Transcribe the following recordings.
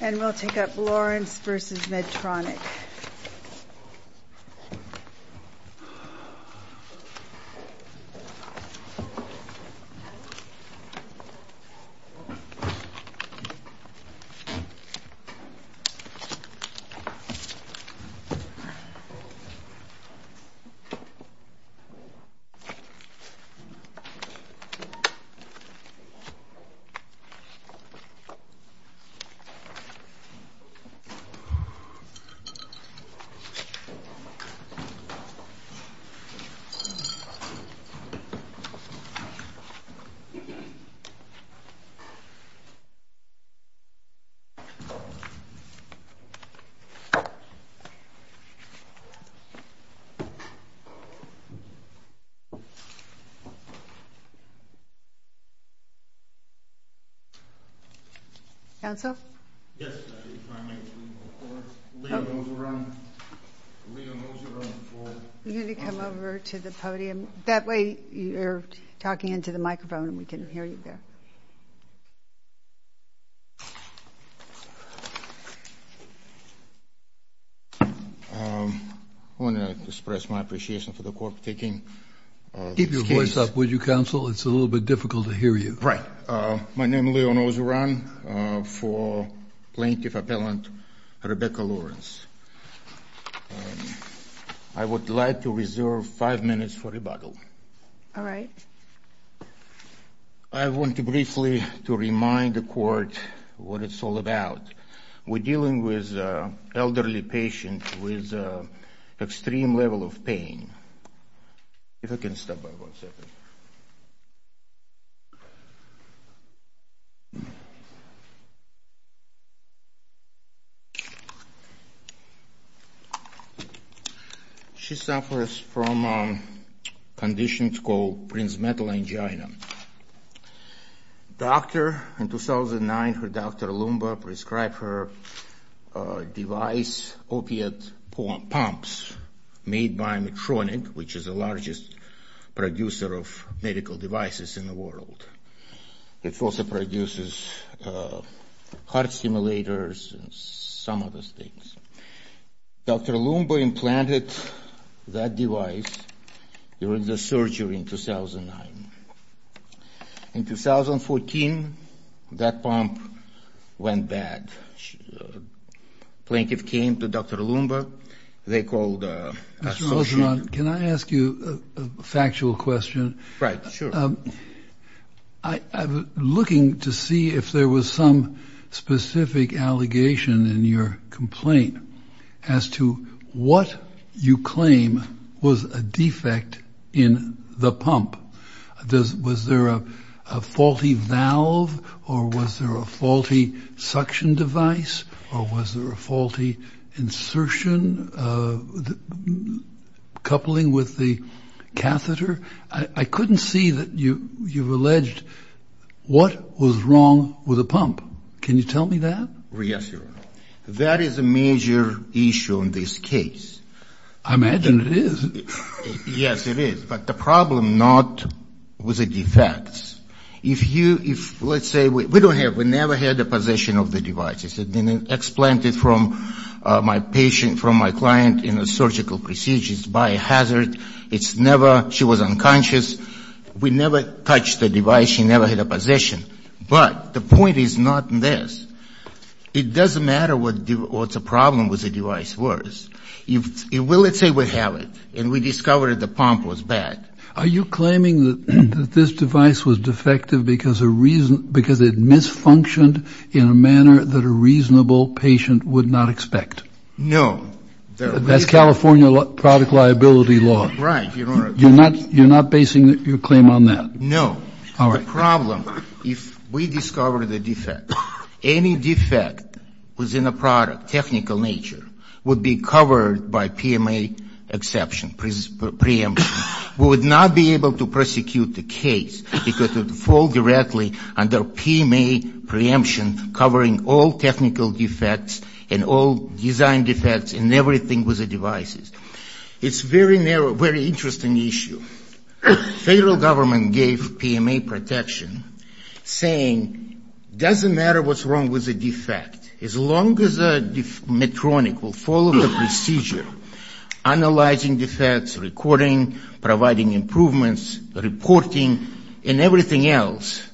And we'll take up Lawrence v. Medtronic Lawrence v. Medtronic I want to express my appreciation for the court for taking this case. Keep your voice up, would you, counsel? It's a little bit difficult to hear you. Right. My name is Leon Ozuran for Plaintiff Appellant Rebeca Lawrence. I would like to reserve five minutes for rebuttal. All right. I want to briefly remind the court what it's all about. We're dealing with an elderly patient with extreme level of pain. If I can stop by one second. She suffers from conditions called Prince Metal Angina. In 2009, her doctor, Lumba, prescribed her a device, opiate pumps, made by Medtronic, which is the largest producer of medical devices in the world. It also produces heart simulators and some other things. Dr. Lumba implanted that device during the surgery in 2009. In 2014, that pump went bad. Plaintiff came to Dr. Lumba. They called a... Mr. Ozuran, can I ask you a factual question? Right. Sure. I was looking to see if there was some specific allegation in your complaint as to what you claim was a defect in the pump. Was there a faulty valve or was there a faulty suction device or was there a faulty insertion coupling with the catheter? I couldn't see that you've alleged what was wrong with the pump. Can you tell me that? Yes, sir. That is a major issue in this case. I imagine it is. Yes, it is. But the problem not with the defects. If you... Let's say we don't have... We never had a possession of the device. It's been explanted from my patient, from my client in a surgical procedure. It's by hazard. It's never... She was unconscious. We never touched the device. She never had a possession. But the point is not this. It doesn't matter what the problem with the device was. If we... Let's say we have it and we discover the pump was bad. Are you claiming that this device was defective because it misfunctioned in a manner that a reasonable patient would not expect? No. That's California product liability law. Right. You're not basing your claim on that. No. All right. The problem, if we discover the defect, any defect within a product, technical nature, would be covered by PMA exception, preemption. We would not be able to prosecute the case because it would fall directly under PMA preemption covering all technical defects and all design defects and everything with the devices. It's a very interesting issue. Federal government gave PMA protection saying it doesn't matter what's wrong with the defect. As long as Medtronic will follow the procedure, analyzing defects, recording, providing improvements, reporting, and everything else,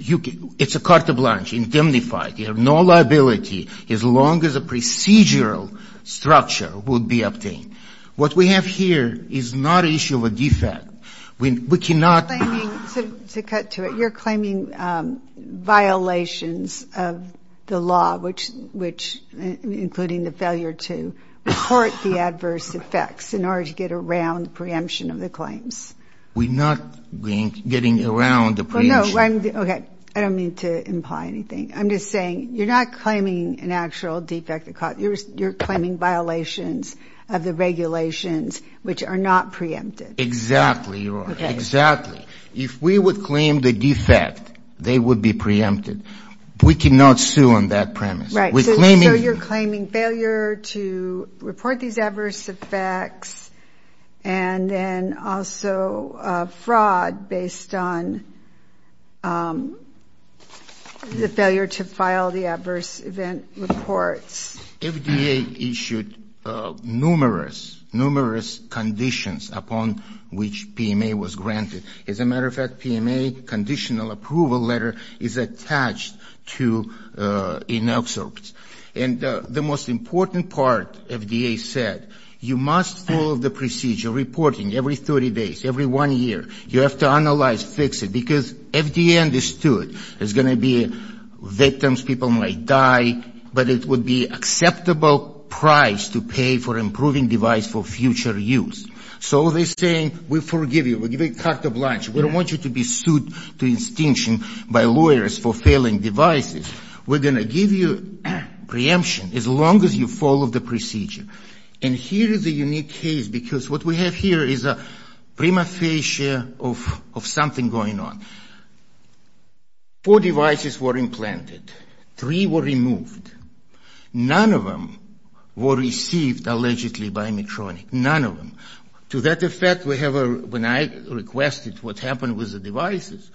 it's a carte blanche, indemnified. You have no liability as long as a procedural structure will be obtained. What we have here is not an issue of a defect. We cannot... To cut to it, you're claiming violations of the law, including the failure to report the adverse effects in order to get around preemption of the claims. We're not getting around the preemption. Okay. I don't mean to imply anything. I'm just saying you're not claiming an actual defect. You're claiming violations of the regulations which are not preempted. Exactly, Your Honor. Exactly. If we would claim the defect, they would be preempted. We cannot sue on that premise. Right. So you're claiming failure to report these adverse effects and then also fraud based on the failure to file the adverse event reports. FDA issued numerous, numerous conditions upon which PMA was granted. As a matter of fact, PMA conditional approval letter is attached in excerpts. And the most important part, FDA said, you must follow the procedure, reporting every 30 days, every one year. You have to analyze, fix it, because FDA understood there's going to be victims, people might die, but it would be acceptable price to pay for improving device for future use. So they're saying, we forgive you, we give you carte blanche, we don't want you to be sued to extinction by lawyers for failing devices. We're going to give you preemption as long as you follow the procedure. And here is a unique case, because what we have here is a prima facie of something going on. Four devices were implanted. Three were removed. None of them were received allegedly by Medtronic. None of them. To that effect, when I requested what happened with the devices,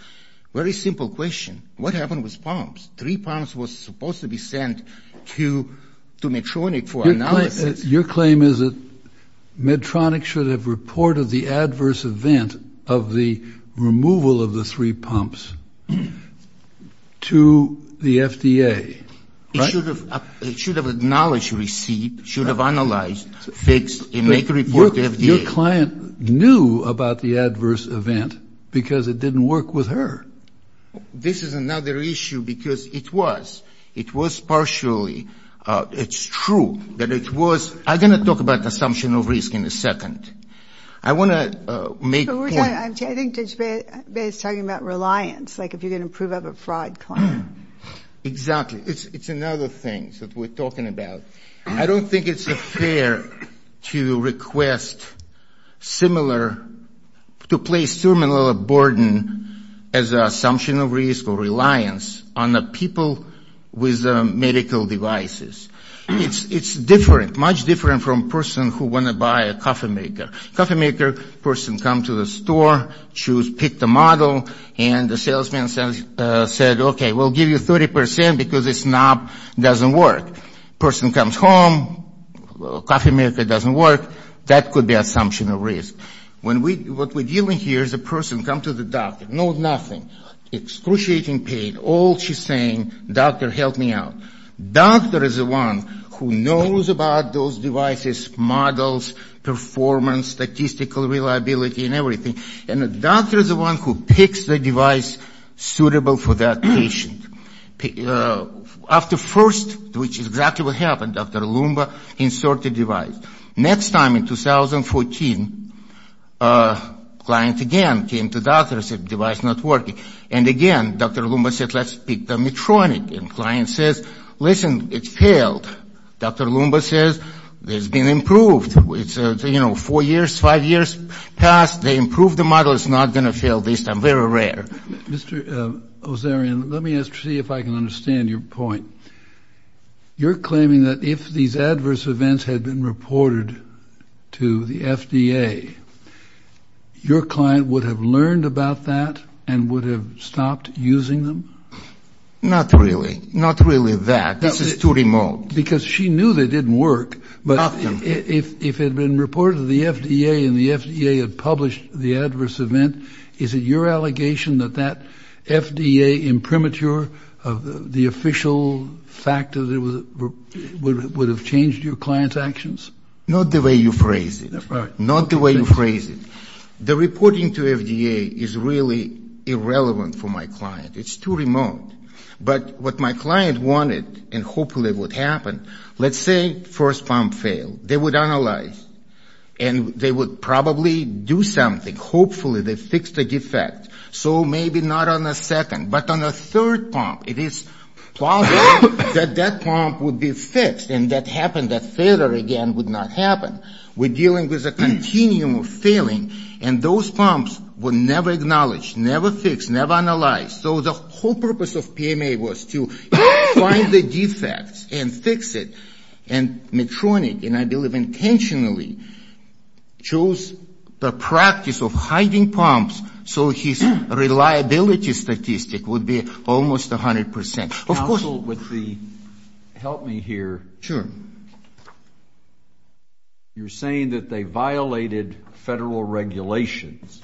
very simple question. What happened with pumps? Three pumps were supposed to be sent to Medtronic for analysis. Your claim is that Medtronic should have reported the adverse event of the removal of the three pumps to the FDA. It should have acknowledged receipt, should have analyzed, fixed, and make a report to FDA. But your client knew about the adverse event because it didn't work with her. This is another issue, because it was. It was partially. It's true that it was. I'm going to talk about assumption of risk in a second. I want to make points. I think Judge Bay is talking about reliance, like if you're going to prove I'm a fraud client. Exactly. It's another thing that we're talking about. I don't think it's fair to request similar, to place terminal burden as an assumption of risk or reliance on the people with the medical devices. It's different, much different from a person who went to buy a coffee maker. Coffee maker, person come to the store, choose, pick the model, and the salesman says, okay, we'll give you 30 percent because this knob doesn't work. Person comes home, coffee maker doesn't work, that could be assumption of risk. What we're dealing here is a person come to the doctor, know nothing, excruciating pain, all she's saying, doctor, help me out. Doctor is the one who knows about those devices, models, performance, statistical reliability and everything. And the doctor is the one who picks the device suitable for that patient. After first, which is exactly what happened, Dr. Lumba inserted device. Next time in 2014, client again came to doctor, said device not working. And again, Dr. Lumba said, let's pick the Medtronic, and client says, listen, it failed. Dr. Lumba says, it's been improved. It's, you know, four years, five years past, they improved the model, it's not going to fail this time, very rare. Mr. Ozarian, let me see if I can understand your point. You're claiming that if these adverse events had been reported to the FDA, your client would have learned about that and would have stopped using them? Not really. Not really that. This is too remote. Because she knew they didn't work, but if it had been reported to the FDA and the FDA had published the adverse event, is it your allegation that that FDA imprimatur of the official fact that it would have changed your client's actions? Not the way you phrase it. The reporting to FDA is really irrelevant for my client. It's too remote. But what my client wanted and hopefully would happen, let's say first pump failed. They would analyze and they would probably do something, hopefully they fixed the defect. So maybe not on a second, but on a third pump, it is possible that that pump would be fixed and that happened, and that failure again would not happen. We're dealing with a continuum of failing. And those pumps were never acknowledged, never fixed, never analyzed. So the whole purpose of PMA was to find the defects and fix it. And Medtronic, and I believe intentionally, chose the practice of hiding pumps so his reliability statistic would be almost 100%. Counsel, would you help me here? Sure. You're saying that they violated federal regulations.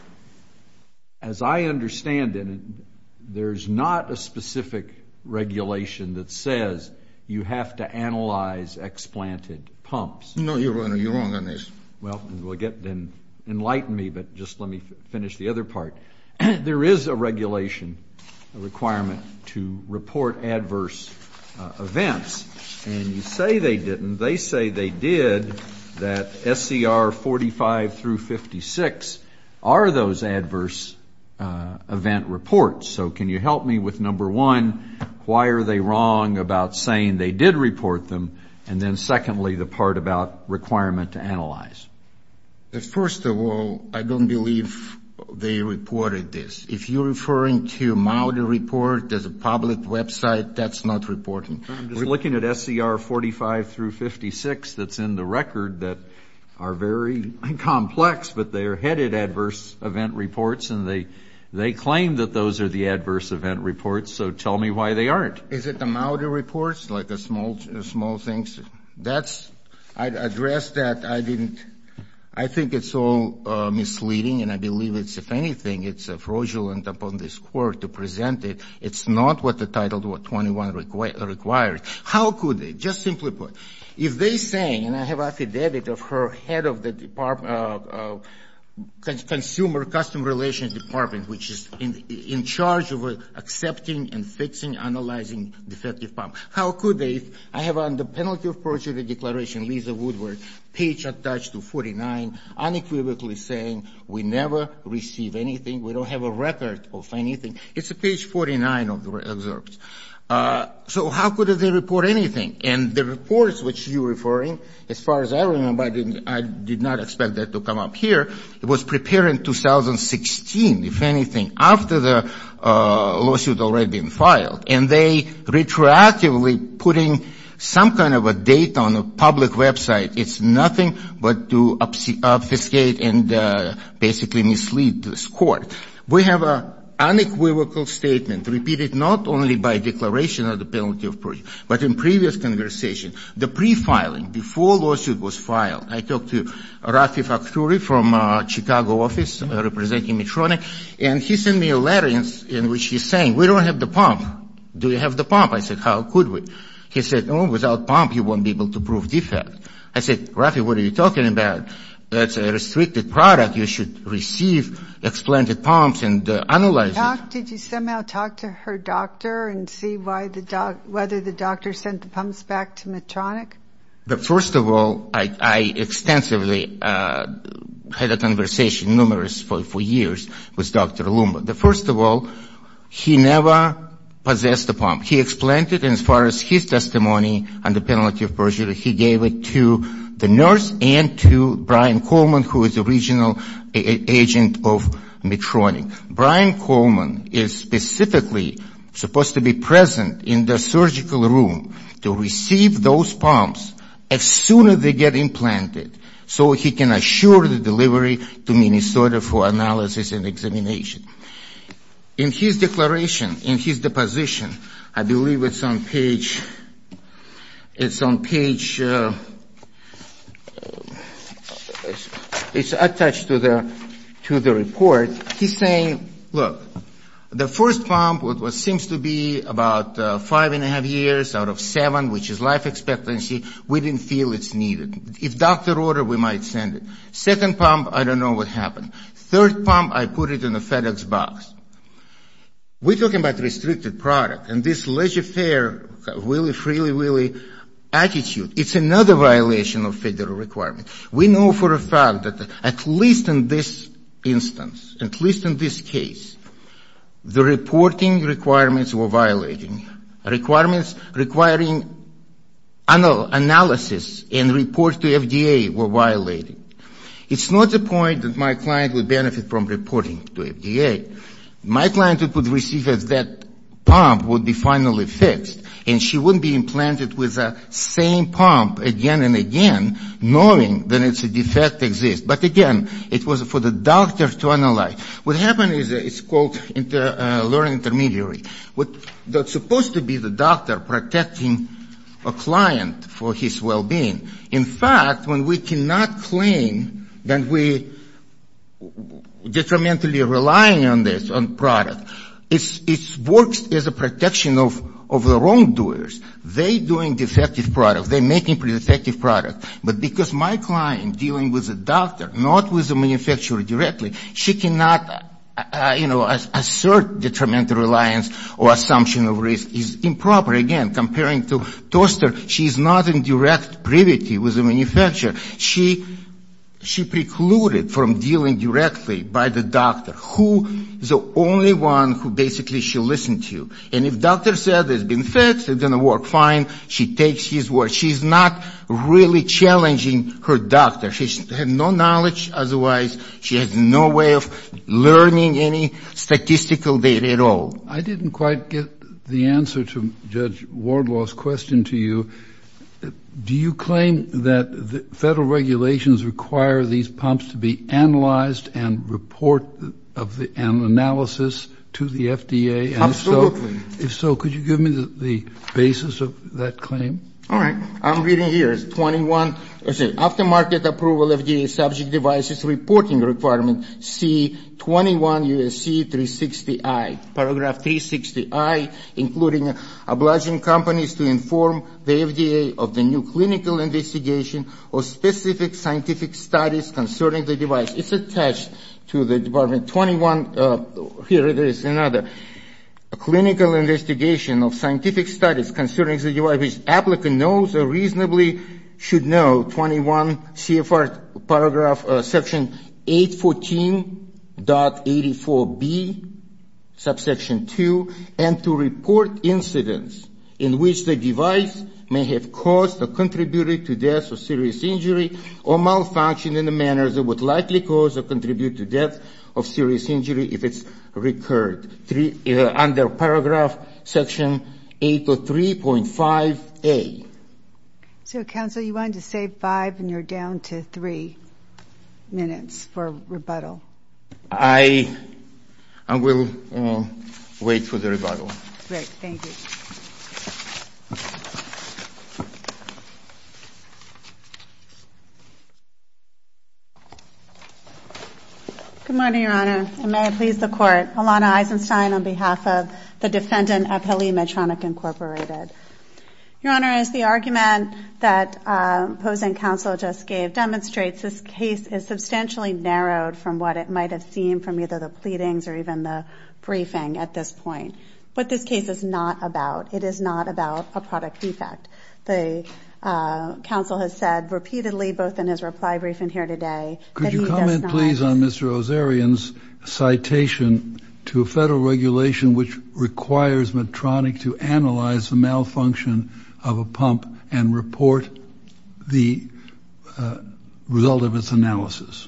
As I understand it, there's not a specific regulation that says you have to analyze explanted pumps. No, Your Honor, you're wrong on this. Well, then enlighten me, but just let me finish the other part. There is a regulation, a requirement to report adverse events. And you say they didn't. They say they did, that SCR 45 through 56 are those adverse event reports. So can you help me with number one, why are they wrong about saying they did report them? And then secondly, the part about requirement to analyze. First of all, I don't believe they reported this. If you're referring to MAUDI report as a public website, that's not reporting. I'm just looking at SCR 45 through 56 that's in the record that are very complex, but they're headed adverse event reports, and they claim that those are the adverse event reports. So tell me why they aren't. Is it the MAUDI reports, like the small things? I'd address that. I think it's all misleading, and I believe it's, if anything, it's fraudulent upon this Court to present it. It's not what the Title 21 requires. How could they, just simply put, if they say, and I have affidavit of her head of the Consumer Custom Relations Department, which is in charge of accepting and fixing, analyzing defective pumps, how could they, I have on the penalty of perjury declaration, Lisa Woodward, page attached to 49, unequivocally saying, we never receive anything, we don't have a record of anything. It's page 49 of the excerpts. So how could they report anything? And the reports which you're referring, as far as I remember, I did not expect that to come up here. It was prepared in 2016, if anything, after the lawsuit had already been filed. And they retroactively putting some kind of a date on a public website. It's nothing but to obfuscate and basically mislead this Court. We have an unequivocal statement, repeated not only by declaration of the penalty of perjury, but in previous conversations. The pre-filing, before the lawsuit was filed, I talked to Rafi Faktouri from Chicago office, representing Medtronic, and he sent me a letter in which he's saying, we don't have the pump. Do you have the pump? I said, how could we? He said, oh, without pump, you won't be able to prove defect. I said, Rafi, what are you talking about? That's a restricted product. You should receive explanted pumps and analyze it. Dr., did you somehow talk to her doctor and see whether the doctor sent the pumps back to Medtronic? First of all, I extensively had a conversation, numerous, for years with Dr. Lumba. First of all, he never possessed the pump. He explanted, as far as his testimony on the penalty of perjury, he gave it to the nurse and to Brian Coleman, who is a regional agent of Medtronic. Brian Coleman is specifically supposed to be present in the surgical room to receive those pumps as soon as they get implanted so he can assure the delivery to Minnesota for analysis and examination. In his declaration, in his deposition, I believe it's on page 5, it's attached to the report, he's saying, look, the first pump, what seems to be about five and a half years out of seven, which is life expectancy, we didn't feel it's needed. If Dr. ordered, we might send it. Second pump, I don't know what happened. Third pump, I put it in the FedEx box. We're talking about restricted product, and this leisure fair attitude, it's another violation of federal requirements. We know for a fact that at least in this instance, at least in this case, the reporting requirements were violating. Requirements requiring analysis and report to FDA were violating. It's not the point that my client would benefit from reporting to FDA. My client would receive it, that pump would be finally fixed, and she wouldn't be implanted with the same pump again and again, knowing that it's a defect exist. But again, it was for the doctor to analyze. What happened is it's called learning intermediary. It's supposed to be the doctor protecting a client for his well-being. In fact, when we cannot claim that we are detrimentally relying on this product, it works as a protection of the wrongdoers. They're doing defective products, they're making defective products. But because my client is dealing with a doctor, not with the manufacturer directly, she cannot, you know, assert detrimental reliance or assumption of risk is improper. Again, comparing to Toaster, she's not in direct privity with the manufacturer. She precluded from dealing directly by the doctor, who is the only one who basically she'll listen to. And if doctor said it's been fixed, it's going to work fine, she takes his word. She's not really challenging her doctor. She has no knowledge, otherwise she has no way of learning any statistical data at all. I didn't quite get the answer to Judge Wardlaw's question to you. Do you claim that the federal regulations require these pumps to be analyzed and report of the analysis to the FDA? Absolutely. If so, could you give me the basis of that claim? All right. I'm reading here. It's 21, aftermarket approval of the subject device's reporting requirement, C21 U.S.C. 360i, paragraph 360i, including obliging companies to inform the FDA of the new clinical investigation or specific scientific studies concerning the device. It's attached to the Department 21, here it is, another. A clinical investigation of scientific studies concerning the device, which applicant knows or reasonably should know, 21 CFR paragraph section 814.84B, subsection 2, and to report incidents in which the device may have caused or contributed to death or serious injury or malfunctioned in a manner that would likely cause or contribute to death or serious injury if it's recurred. Under paragraph section 803.5A. So, Counsel, you wanted to save five, and you're down to three minutes for rebuttal. I will wait for the rebuttal. Good morning, Your Honor, and may it please the Court. Alana Eisenstein on behalf of the defendant, Apelli Medtronic, Incorporated. Your Honor, as the argument that opposing counsel just gave demonstrates, this case is substantially narrowed from what it might have seemed from either the pleadings or even the briefing at this point. But this case is not about, it is not about a product defect. The counsel has said repeatedly, both in his reply briefing here today, that he does not... Could you comment, please, on Mr. Ozarian's citation to a federal regulation which requires Medtronic to analyze the malfunction of a pump and report the result of its analysis?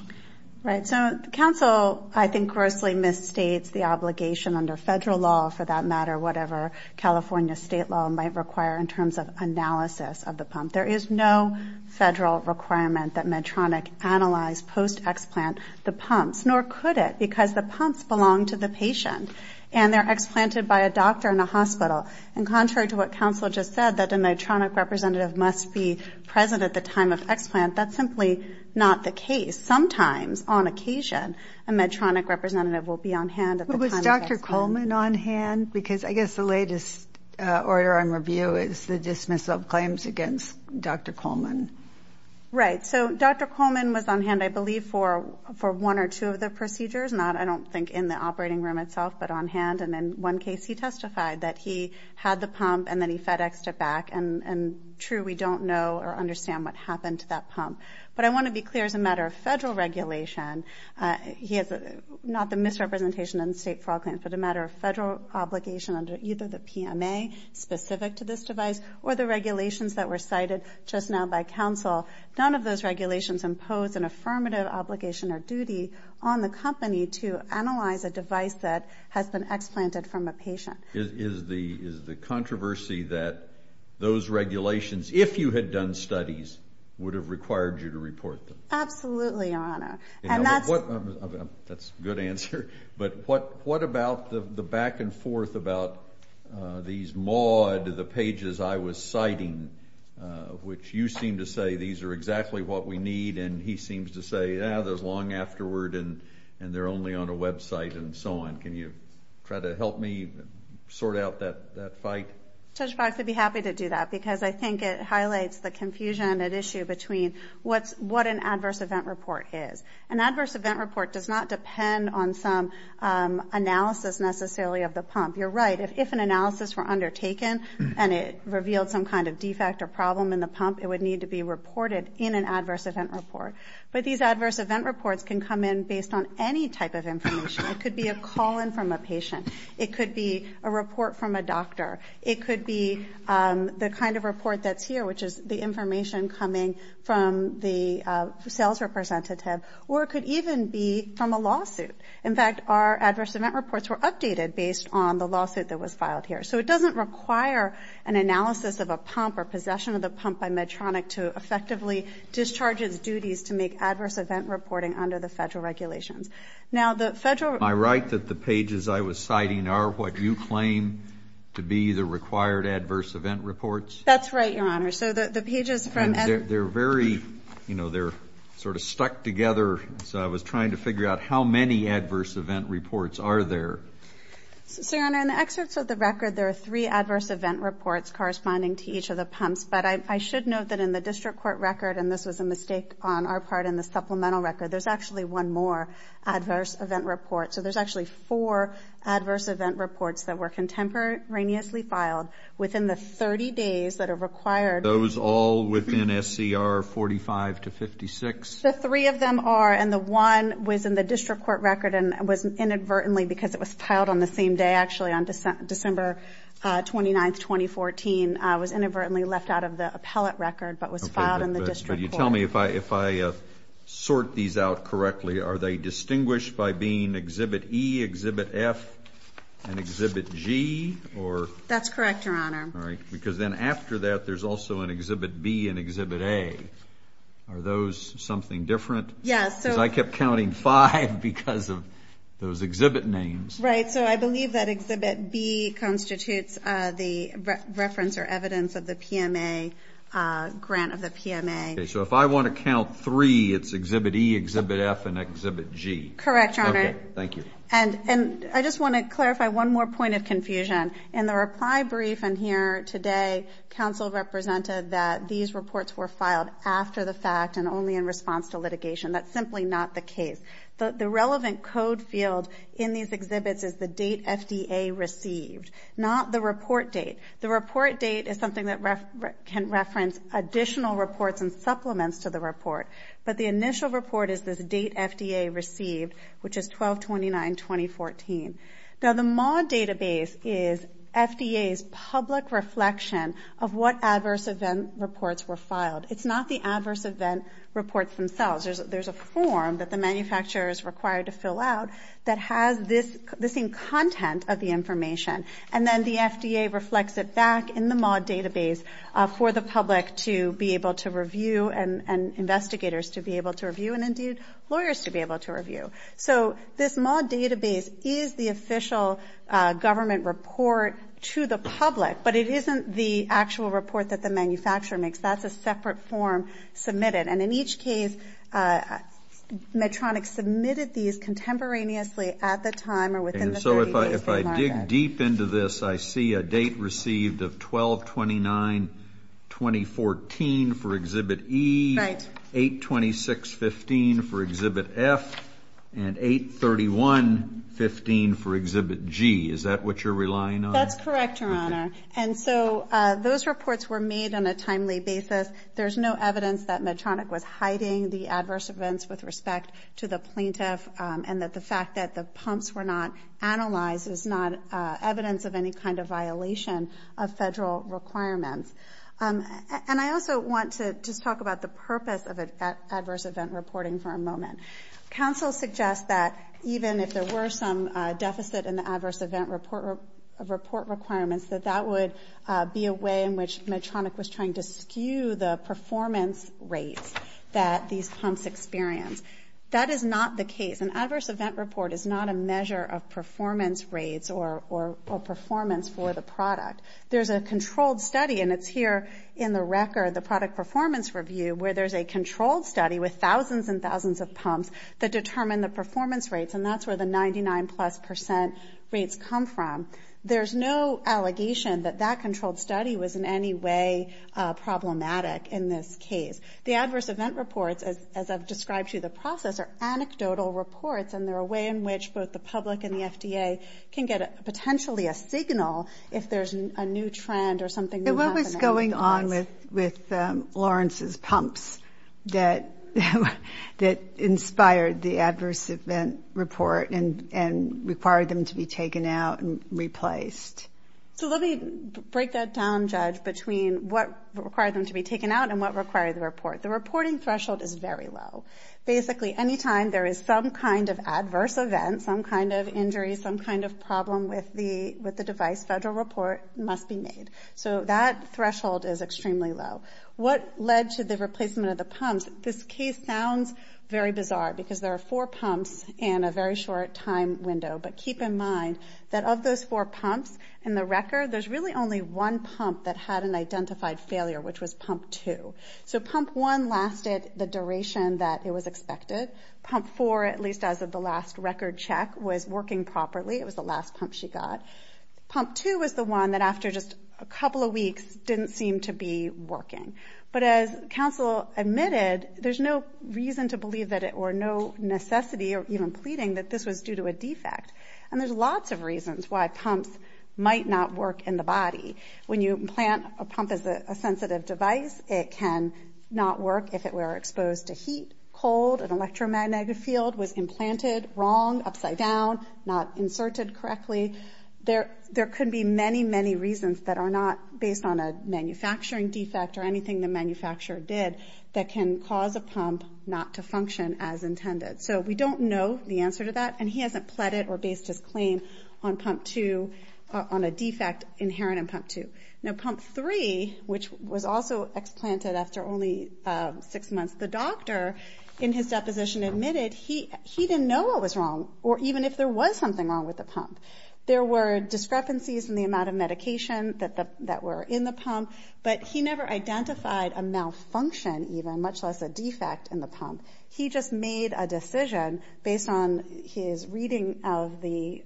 Right. So, counsel, I think, grossly misstates the obligation under federal law, for that matter, whatever California state law might require in terms of analysis of the pump. There is no federal requirement that Medtronic analyze post-explant the pumps, nor could it, because the pumps belong to the patient, and they're explanted by a doctor in a hospital. And contrary to what counsel just said, that a Medtronic representative must be present at the time of explant, that's simply not the case. Sometimes, on occasion, a Medtronic representative will be on hand at the time of explant. But was Dr. Coleman on hand? Because I guess the latest order on review is the dismissal of claims against Dr. Coleman. Right. So Dr. Coleman was on hand, I believe, for one or two of the procedures. Not, I don't think, in the operating room itself, but on hand. And in one case, he testified that he had the pump, and then he FedExed it back. And, true, we don't know or understand what happened to that pump. But I want to be clear, as a matter of federal regulation, not the misrepresentation in state fraud claims, but a matter of federal obligation under either the PMA specific to this device, or the regulations that were cited just now by counsel, none of those regulations impose an affirmative obligation or duty on the company to analyze a device that has been explanted from a patient. Is the controversy that those regulations, if you had done studies, would have required you to report them? Absolutely, Your Honor. That's a good answer. But what about the back and forth about these maud, the pages I was citing, which you seem to say these are exactly what we need, and he seems to say, yeah, there's long afterward, and they're only on a website, and so on. Can you try to help me sort out that fight? Judge Fox would be happy to do that, because I think it highlights the confusion at issue between what an adverse event report is. An adverse event report does not depend on some analysis, necessarily, of the pump. You're right, if an analysis were undertaken and it revealed some kind of defect or problem in the pump, it would need to be reported in an adverse event report. But these adverse event reports can come in based on any type of information. It could be a call in from a patient. It could be a report from a doctor. It could be the kind of report that's here, which is the information coming from the sales representative, or it could even be from a lawsuit. In fact, our adverse event reports were updated based on the lawsuit that was filed here. So it doesn't require an analysis of a pump or possession of the pump by Medtronic to effectively discharge its duties to make adverse event reporting under the federal regulations. Now, the federal ---- Am I right that the pages I was citing are what you claim to be the required adverse event reports? That's right, Your Honor. So the pages from ---- They're very, you know, they're sort of stuck together. So I was trying to figure out how many adverse event reports are there. So, Your Honor, in the excerpts of the record, there are three adverse event reports corresponding to each of the pumps. But I should note that in the district court record, and this was a mistake on our part in the supplemental record, there's actually one more adverse event report. So there's actually four adverse event reports that were contemporaneously filed within the 30 days that are required. Those all within SCR 45 to 56? The three of them are, and the one was in the district court record and was inadvertently, because it was filed on the same day, actually, on December 29, 2014, was inadvertently left out of the appellate record but was filed in the district court. But you tell me if I sort these out correctly, are they distinguished by being Exhibit E, Exhibit F, and Exhibit G, or ---- That's correct, Your Honor. All right. Because then after that, there's also an Exhibit B and Exhibit A. Are those something different? Yes. Because I kept counting five because of those exhibit names. Right. So I believe that Exhibit B constitutes the reference or evidence of the PMA, grant of the PMA. So if I want to count three, it's Exhibit E, Exhibit F, and Exhibit G. Correct, Your Honor. Okay. Thank you. And I just want to clarify one more point of confusion. In the reply brief in here today, counsel represented that these reports were filed after the fact and only in response to litigation. That's simply not the case. The relevant code field in these exhibits is the date FDA received, not the report date. The report date is something that can reference additional reports and supplements to the report. But the initial report is this date FDA received, which is 12-29-2014. Now, the MAUD database is FDA's public reflection of what adverse event reports were filed. It's not the adverse event reports themselves. There's a form that the manufacturer is required to fill out that has the same content of the information. And then the FDA reflects it back in the MAUD database for the public to be able to review and investigators to be able to review and, indeed, lawyers to be able to review. So this MAUD database is the official government report to the public, but it isn't the actual report that the manufacturer makes. That's a separate form submitted. And in each case, Medtronic submitted these contemporaneously at the time or within the 30 days. And so if I dig deep into this, I see a date received of 12-29-2014 for exhibit E. Right. 8-26-15 for exhibit F. And 8-31-15 for exhibit G. Is that what you're relying on? That's correct, Your Honor. And so those reports were made on a timely basis. There's no evidence that Medtronic was hiding the adverse events with respect to the plaintiff and that the fact that the pumps were not analyzed is not evidence of any kind of violation of federal requirements. And I also want to just talk about the purpose of adverse event reporting for a moment. Counsel suggests that even if there were some deficit in the adverse event report requirements, that that would be a way in which Medtronic was trying to skew the performance rates that these pumps experience. That is not the case. An adverse event report is not a measure of performance rates or performance for the product. There's a controlled study, and it's here in the record, the Product Performance Review, where there's a controlled study with thousands and thousands of pumps that determine the performance rates, and that's where the 99-plus percent rates come from. There's no allegation that that controlled study was in any way problematic in this case. The adverse event reports, as I've described to you, the process are anecdotal reports, and they're a way in which both the public and the FDA can get potentially a signal if there's a new trend or something new happening. But what was going on with Lawrence's pumps that inspired the adverse event report and required them to be taken out and replaced? So let me break that down, Judge, between what required them to be taken out and what required the report. The reporting threshold is very low. Basically, any time there is some kind of adverse event, some kind of injury, some kind of problem with the device, federal report must be made. So that threshold is extremely low. What led to the replacement of the pumps? This case sounds very bizarre because there are four pumps in a very short time window, but keep in mind that of those four pumps in the record, there's really only one pump that had an identified failure, which was pump two. So pump one lasted the duration that it was expected. Pump four, at least as of the last record check, was working properly. It was the last pump she got. Pump two was the one that after just a couple of weeks didn't seem to be working. But as counsel admitted, there's no reason to believe or no necessity or even pleading that this was due to a defect. And there's lots of reasons why pumps might not work in the body. When you implant a pump as a sensitive device, it can not work if it were exposed to heat, cold, an electromagnetic field, was implanted wrong, upside down, not inserted correctly. There could be many, many reasons that are not based on a manufacturing defect or anything the manufacturer did that can cause a pump not to function as intended. So we don't know the answer to that, and he hasn't pleaded or based his claim on pump two, on a defect inherent in pump two. Now pump three, which was also explanted after only six months, the doctor in his deposition admitted he didn't know what was wrong, or even if there was something wrong with the pump. There were discrepancies in the amount of medication that were in the pump, but he never identified a malfunction even, much less a defect in the pump. He just made a decision based on his reading of the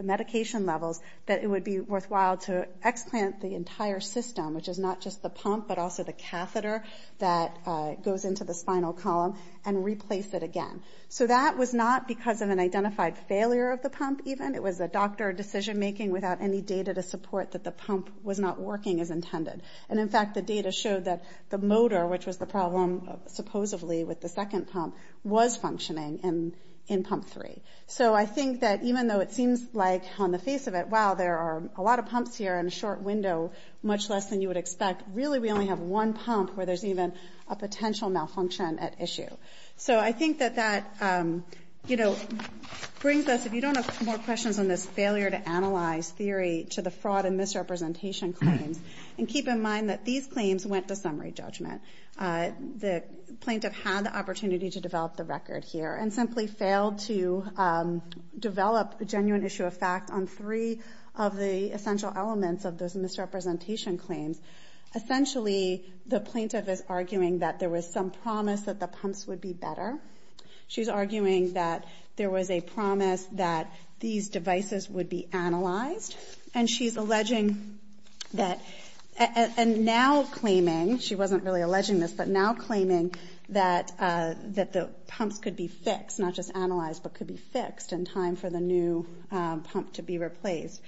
medication levels that it would be worthwhile to explant the entire system, which is not just the pump, but also the catheter that goes into the spinal column, and replace it again. So that was not because of an identified failure of the pump even. It was the doctor decision-making without any data to support that the pump was not working as intended. And in fact, the data showed that the motor, which was the problem supposedly with the second pump, was functioning in pump three. So I think that even though it seems like on the face of it, wow, there are a lot of pumps here in a short window, much less than you would expect, really we only have one pump where there's even a potential malfunction at issue. So I think that that brings us, if you don't have more questions on this failure to analyze theory to the fraud and misrepresentation claims. And keep in mind that these claims went to summary judgment. The plaintiff had the opportunity to develop the record here and simply failed to develop a genuine issue of fact on three of the essential elements of those misrepresentation claims. Essentially, the plaintiff is arguing that there was some promise that the pumps would be better. She's arguing that there was a promise that these devices would be analyzed. And she's alleging that and now claiming, she wasn't really alleging this, but now claiming that the pumps could be fixed, not just analyzed, but could be fixed in time for the new pump to be replaced.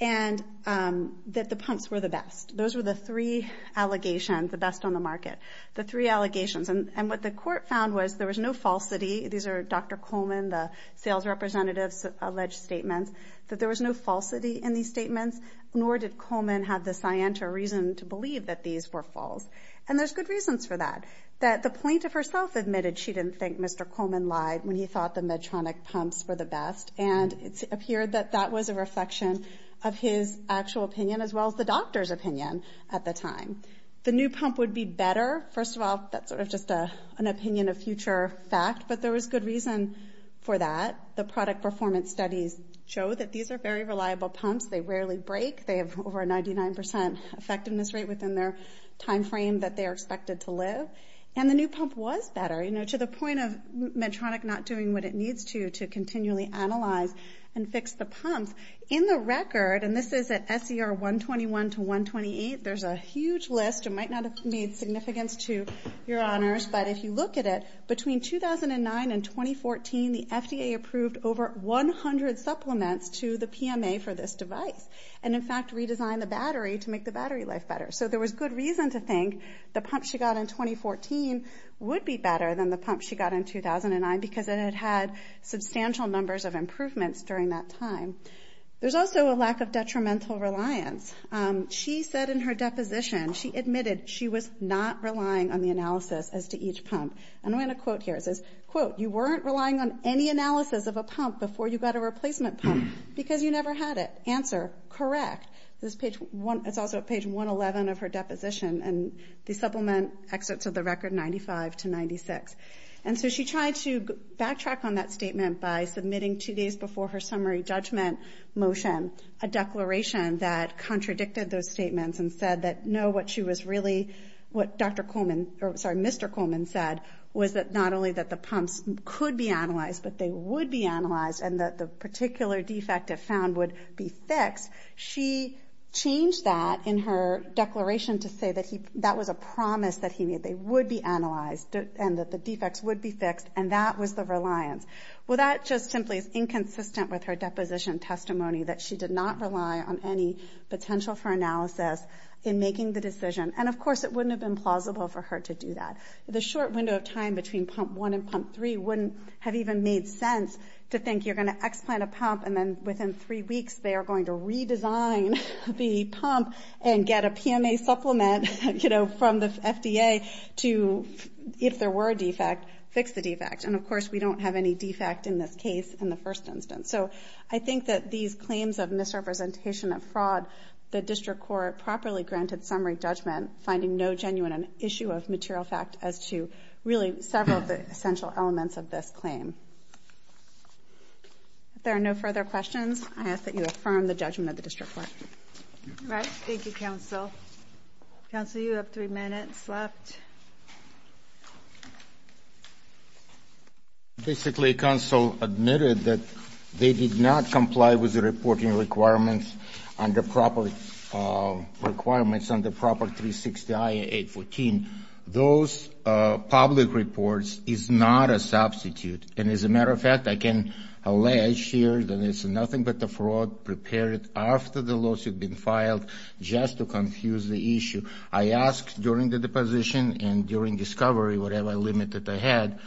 And that the pumps were the best. Those were the three allegations, the best on the market, the three allegations. And what the court found was there was no falsity. These are Dr. Coleman, the sales representative's alleged statements, that there was no falsity in these statements, nor did Coleman have the scientific reason to believe that these were false. And there's good reasons for that. The plaintiff herself admitted she didn't think Mr. Coleman lied when he thought the Medtronic pumps were the best. And it appeared that that was a reflection of his actual opinion, as well as the doctor's opinion at the time. The new pump would be better. First of all, that's sort of just an opinion of future fact. But there was good reason for that. The product performance studies show that these are very reliable pumps. They rarely break. They have over a 99% effectiveness rate within their time frame that they are expected to live. And the new pump was better, you know, to the point of Medtronic not doing what it needs to to continually analyze and fix the pumps. In the record, and this is at SER 121 to 128, there's a huge list. It might not have made significance to your honors, but if you look at it, between 2009 and 2014, the FDA approved over 100 supplements to the PMA for this device and, in fact, redesigned the battery to make the battery life better. So there was good reason to think the pump she got in 2014 would be better than the pump she got in 2009 because it had had substantial numbers of improvements during that time. There's also a lack of detrimental reliance. She said in her deposition she admitted she was not relying on the analysis as to each pump. And I'm going to quote here. It says, quote, You weren't relying on any analysis of a pump before you got a replacement pump because you never had it. Answer, correct. It's also at page 111 of her deposition in the supplement excerpts of the record 95 to 96. And so she tried to backtrack on that statement by submitting two days before her summary judgment motion a declaration that contradicted those statements and said that no, what she was really, what Dr. Coleman, sorry, Mr. Coleman said, was that not only that the pumps could be analyzed, but they would be analyzed and that the particular defect it found would be fixed. She changed that in her declaration to say that that was a promise that he made. They would be analyzed and that the defects would be fixed, and that was the reliance. Well, that just simply is inconsistent with her deposition testimony, that she did not rely on any potential for analysis in making the decision. And, of course, it wouldn't have been plausible for her to do that. The short window of time between pump one and pump three wouldn't have even made sense to think you're going to explant a pump and then within three weeks they are going to redesign the pump and get a PMA supplement from the FDA to, if there were a defect, fix the defect. And, of course, we don't have any defect in this case in the first instance. So I think that these claims of misrepresentation of fraud, the district court properly granted summary judgment finding no genuine issue of material fact as to really several of the essential elements of this claim. If there are no further questions, I ask that you affirm the judgment of the district court. All right. Thank you, counsel. Counsel, you have three minutes left. Basically, counsel admitted that they did not comply with the reporting requirements under proper 360 IA 814. Those public reports is not a substitute. And, as a matter of fact, I can allege here that it's nothing but the fraud prepared after the lawsuit being filed just to confuse the issue. I asked during the deposition and during discovery, whatever limit that I had,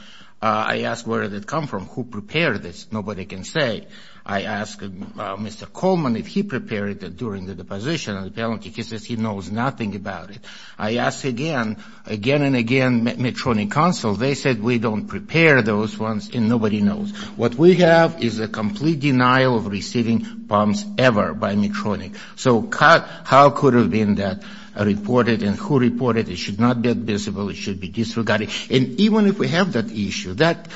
I asked where did it come from, who prepared this. Nobody can say. I asked Mr. Coleman if he prepared it during the deposition on the penalty. He says he knows nothing about it. I asked again, again and again, Medtronic counsel. They said we don't prepare those ones and nobody knows. What we have is a complete denial of receiving pumps ever by Medtronic. So how could it have been that reported and who reported? It should not be admissible. It should be disregarded. And even if we have that issue, that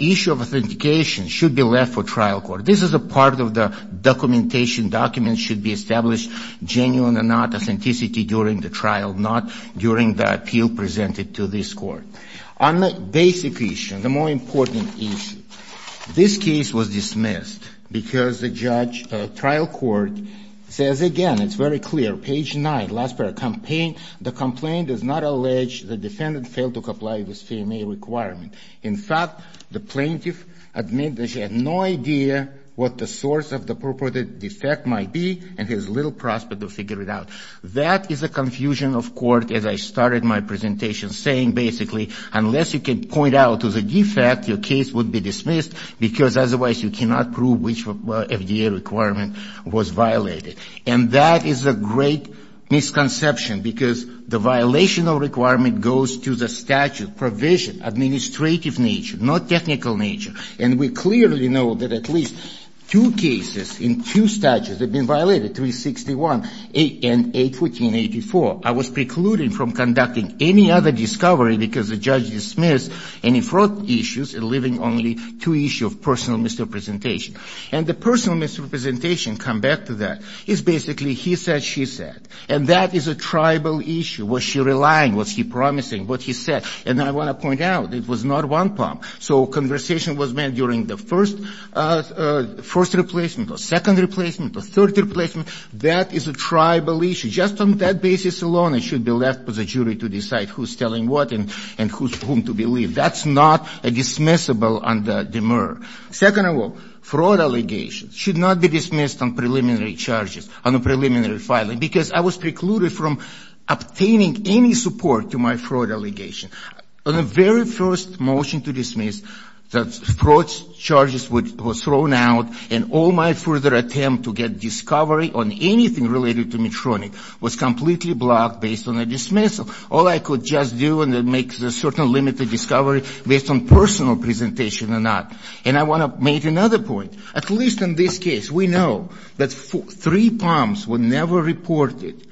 issue of authentication should be left for trial court. This is a part of the documentation. The documentation should be established genuine or not, authenticity during the trial, not during the appeal presented to this court. On the basic issue, the more important issue, this case was dismissed because the trial court says, again, it's very clear, page 9, last part, the complaint does not allege the defendant failed to comply with FEMA requirement. In fact, the plaintiff admitted she had no idea what the source of the reported defect might be and has little prospect of figuring it out. That is a confusion of court, as I started my presentation, saying basically unless you can point out to the defect, your case would be dismissed because otherwise you cannot prove which FDA requirement was violated. And that is a great misconception because the violation of requirement goes to the statute provision, administrative nature, not technical nature. And we clearly know that at least two cases in two statutes have been violated, 361 and 814-84. I was precluded from conducting any other discovery because the judge dismissed any fraud issues and leaving only two issues of personal misrepresentation. And the personal misrepresentation, come back to that, is basically he said, she said. And that is a tribal issue. Was she relying? Was he promising? What he said? And I want to point out, it was not one pump. So conversation was made during the first replacement or second replacement or third replacement. That is a tribal issue. Just on that basis alone, it should be left for the jury to decide who's telling what and whom to believe. That's not a dismissable under Demer. Second of all, fraud allegations should not be dismissed on preliminary charges, on a preliminary filing, because I was precluded from obtaining any support to my fraud allegation. On the very first motion to dismiss, the fraud charges were thrown out, and all my further attempt to get discovery on anything related to Medtronic was completely blocked based on a dismissal. All I could just do is make a certain limited discovery based on personal presentation or not. And I want to make another point. At least in this case, we know that three pumps were never reported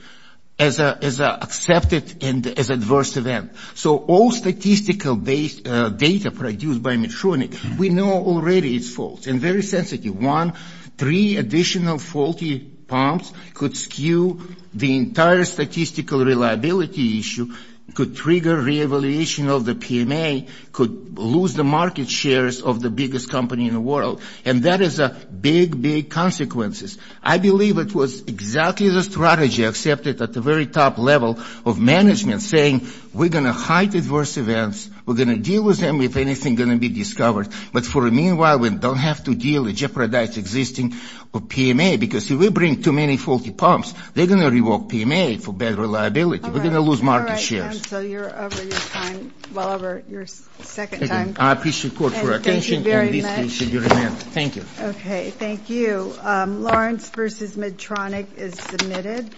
as accepted as adverse event. So all statistical data produced by Medtronic, we know already it's false and very sensitive. One, three additional faulty pumps could skew the entire statistical reliability issue, could trigger reevaluation of the PMA, could lose the market shares of the biggest company in the world. And that is a big, big consequences. I believe it was exactly the strategy accepted at the very top level of management saying we're going to hide adverse events, we're going to deal with them if anything is going to be discovered. But for the meanwhile, we don't have to deal with jeopardized existing PMA, because if we bring too many faulty pumps, they're going to revoke PMA for bad reliability. We're going to lose market shares. All right. So you're over your time. Well, over your second time. I appreciate your attention. Thank you very much. And this case should be remanded. Thank you. Okay, thank you. Lawrence v. Medtronic is submitted.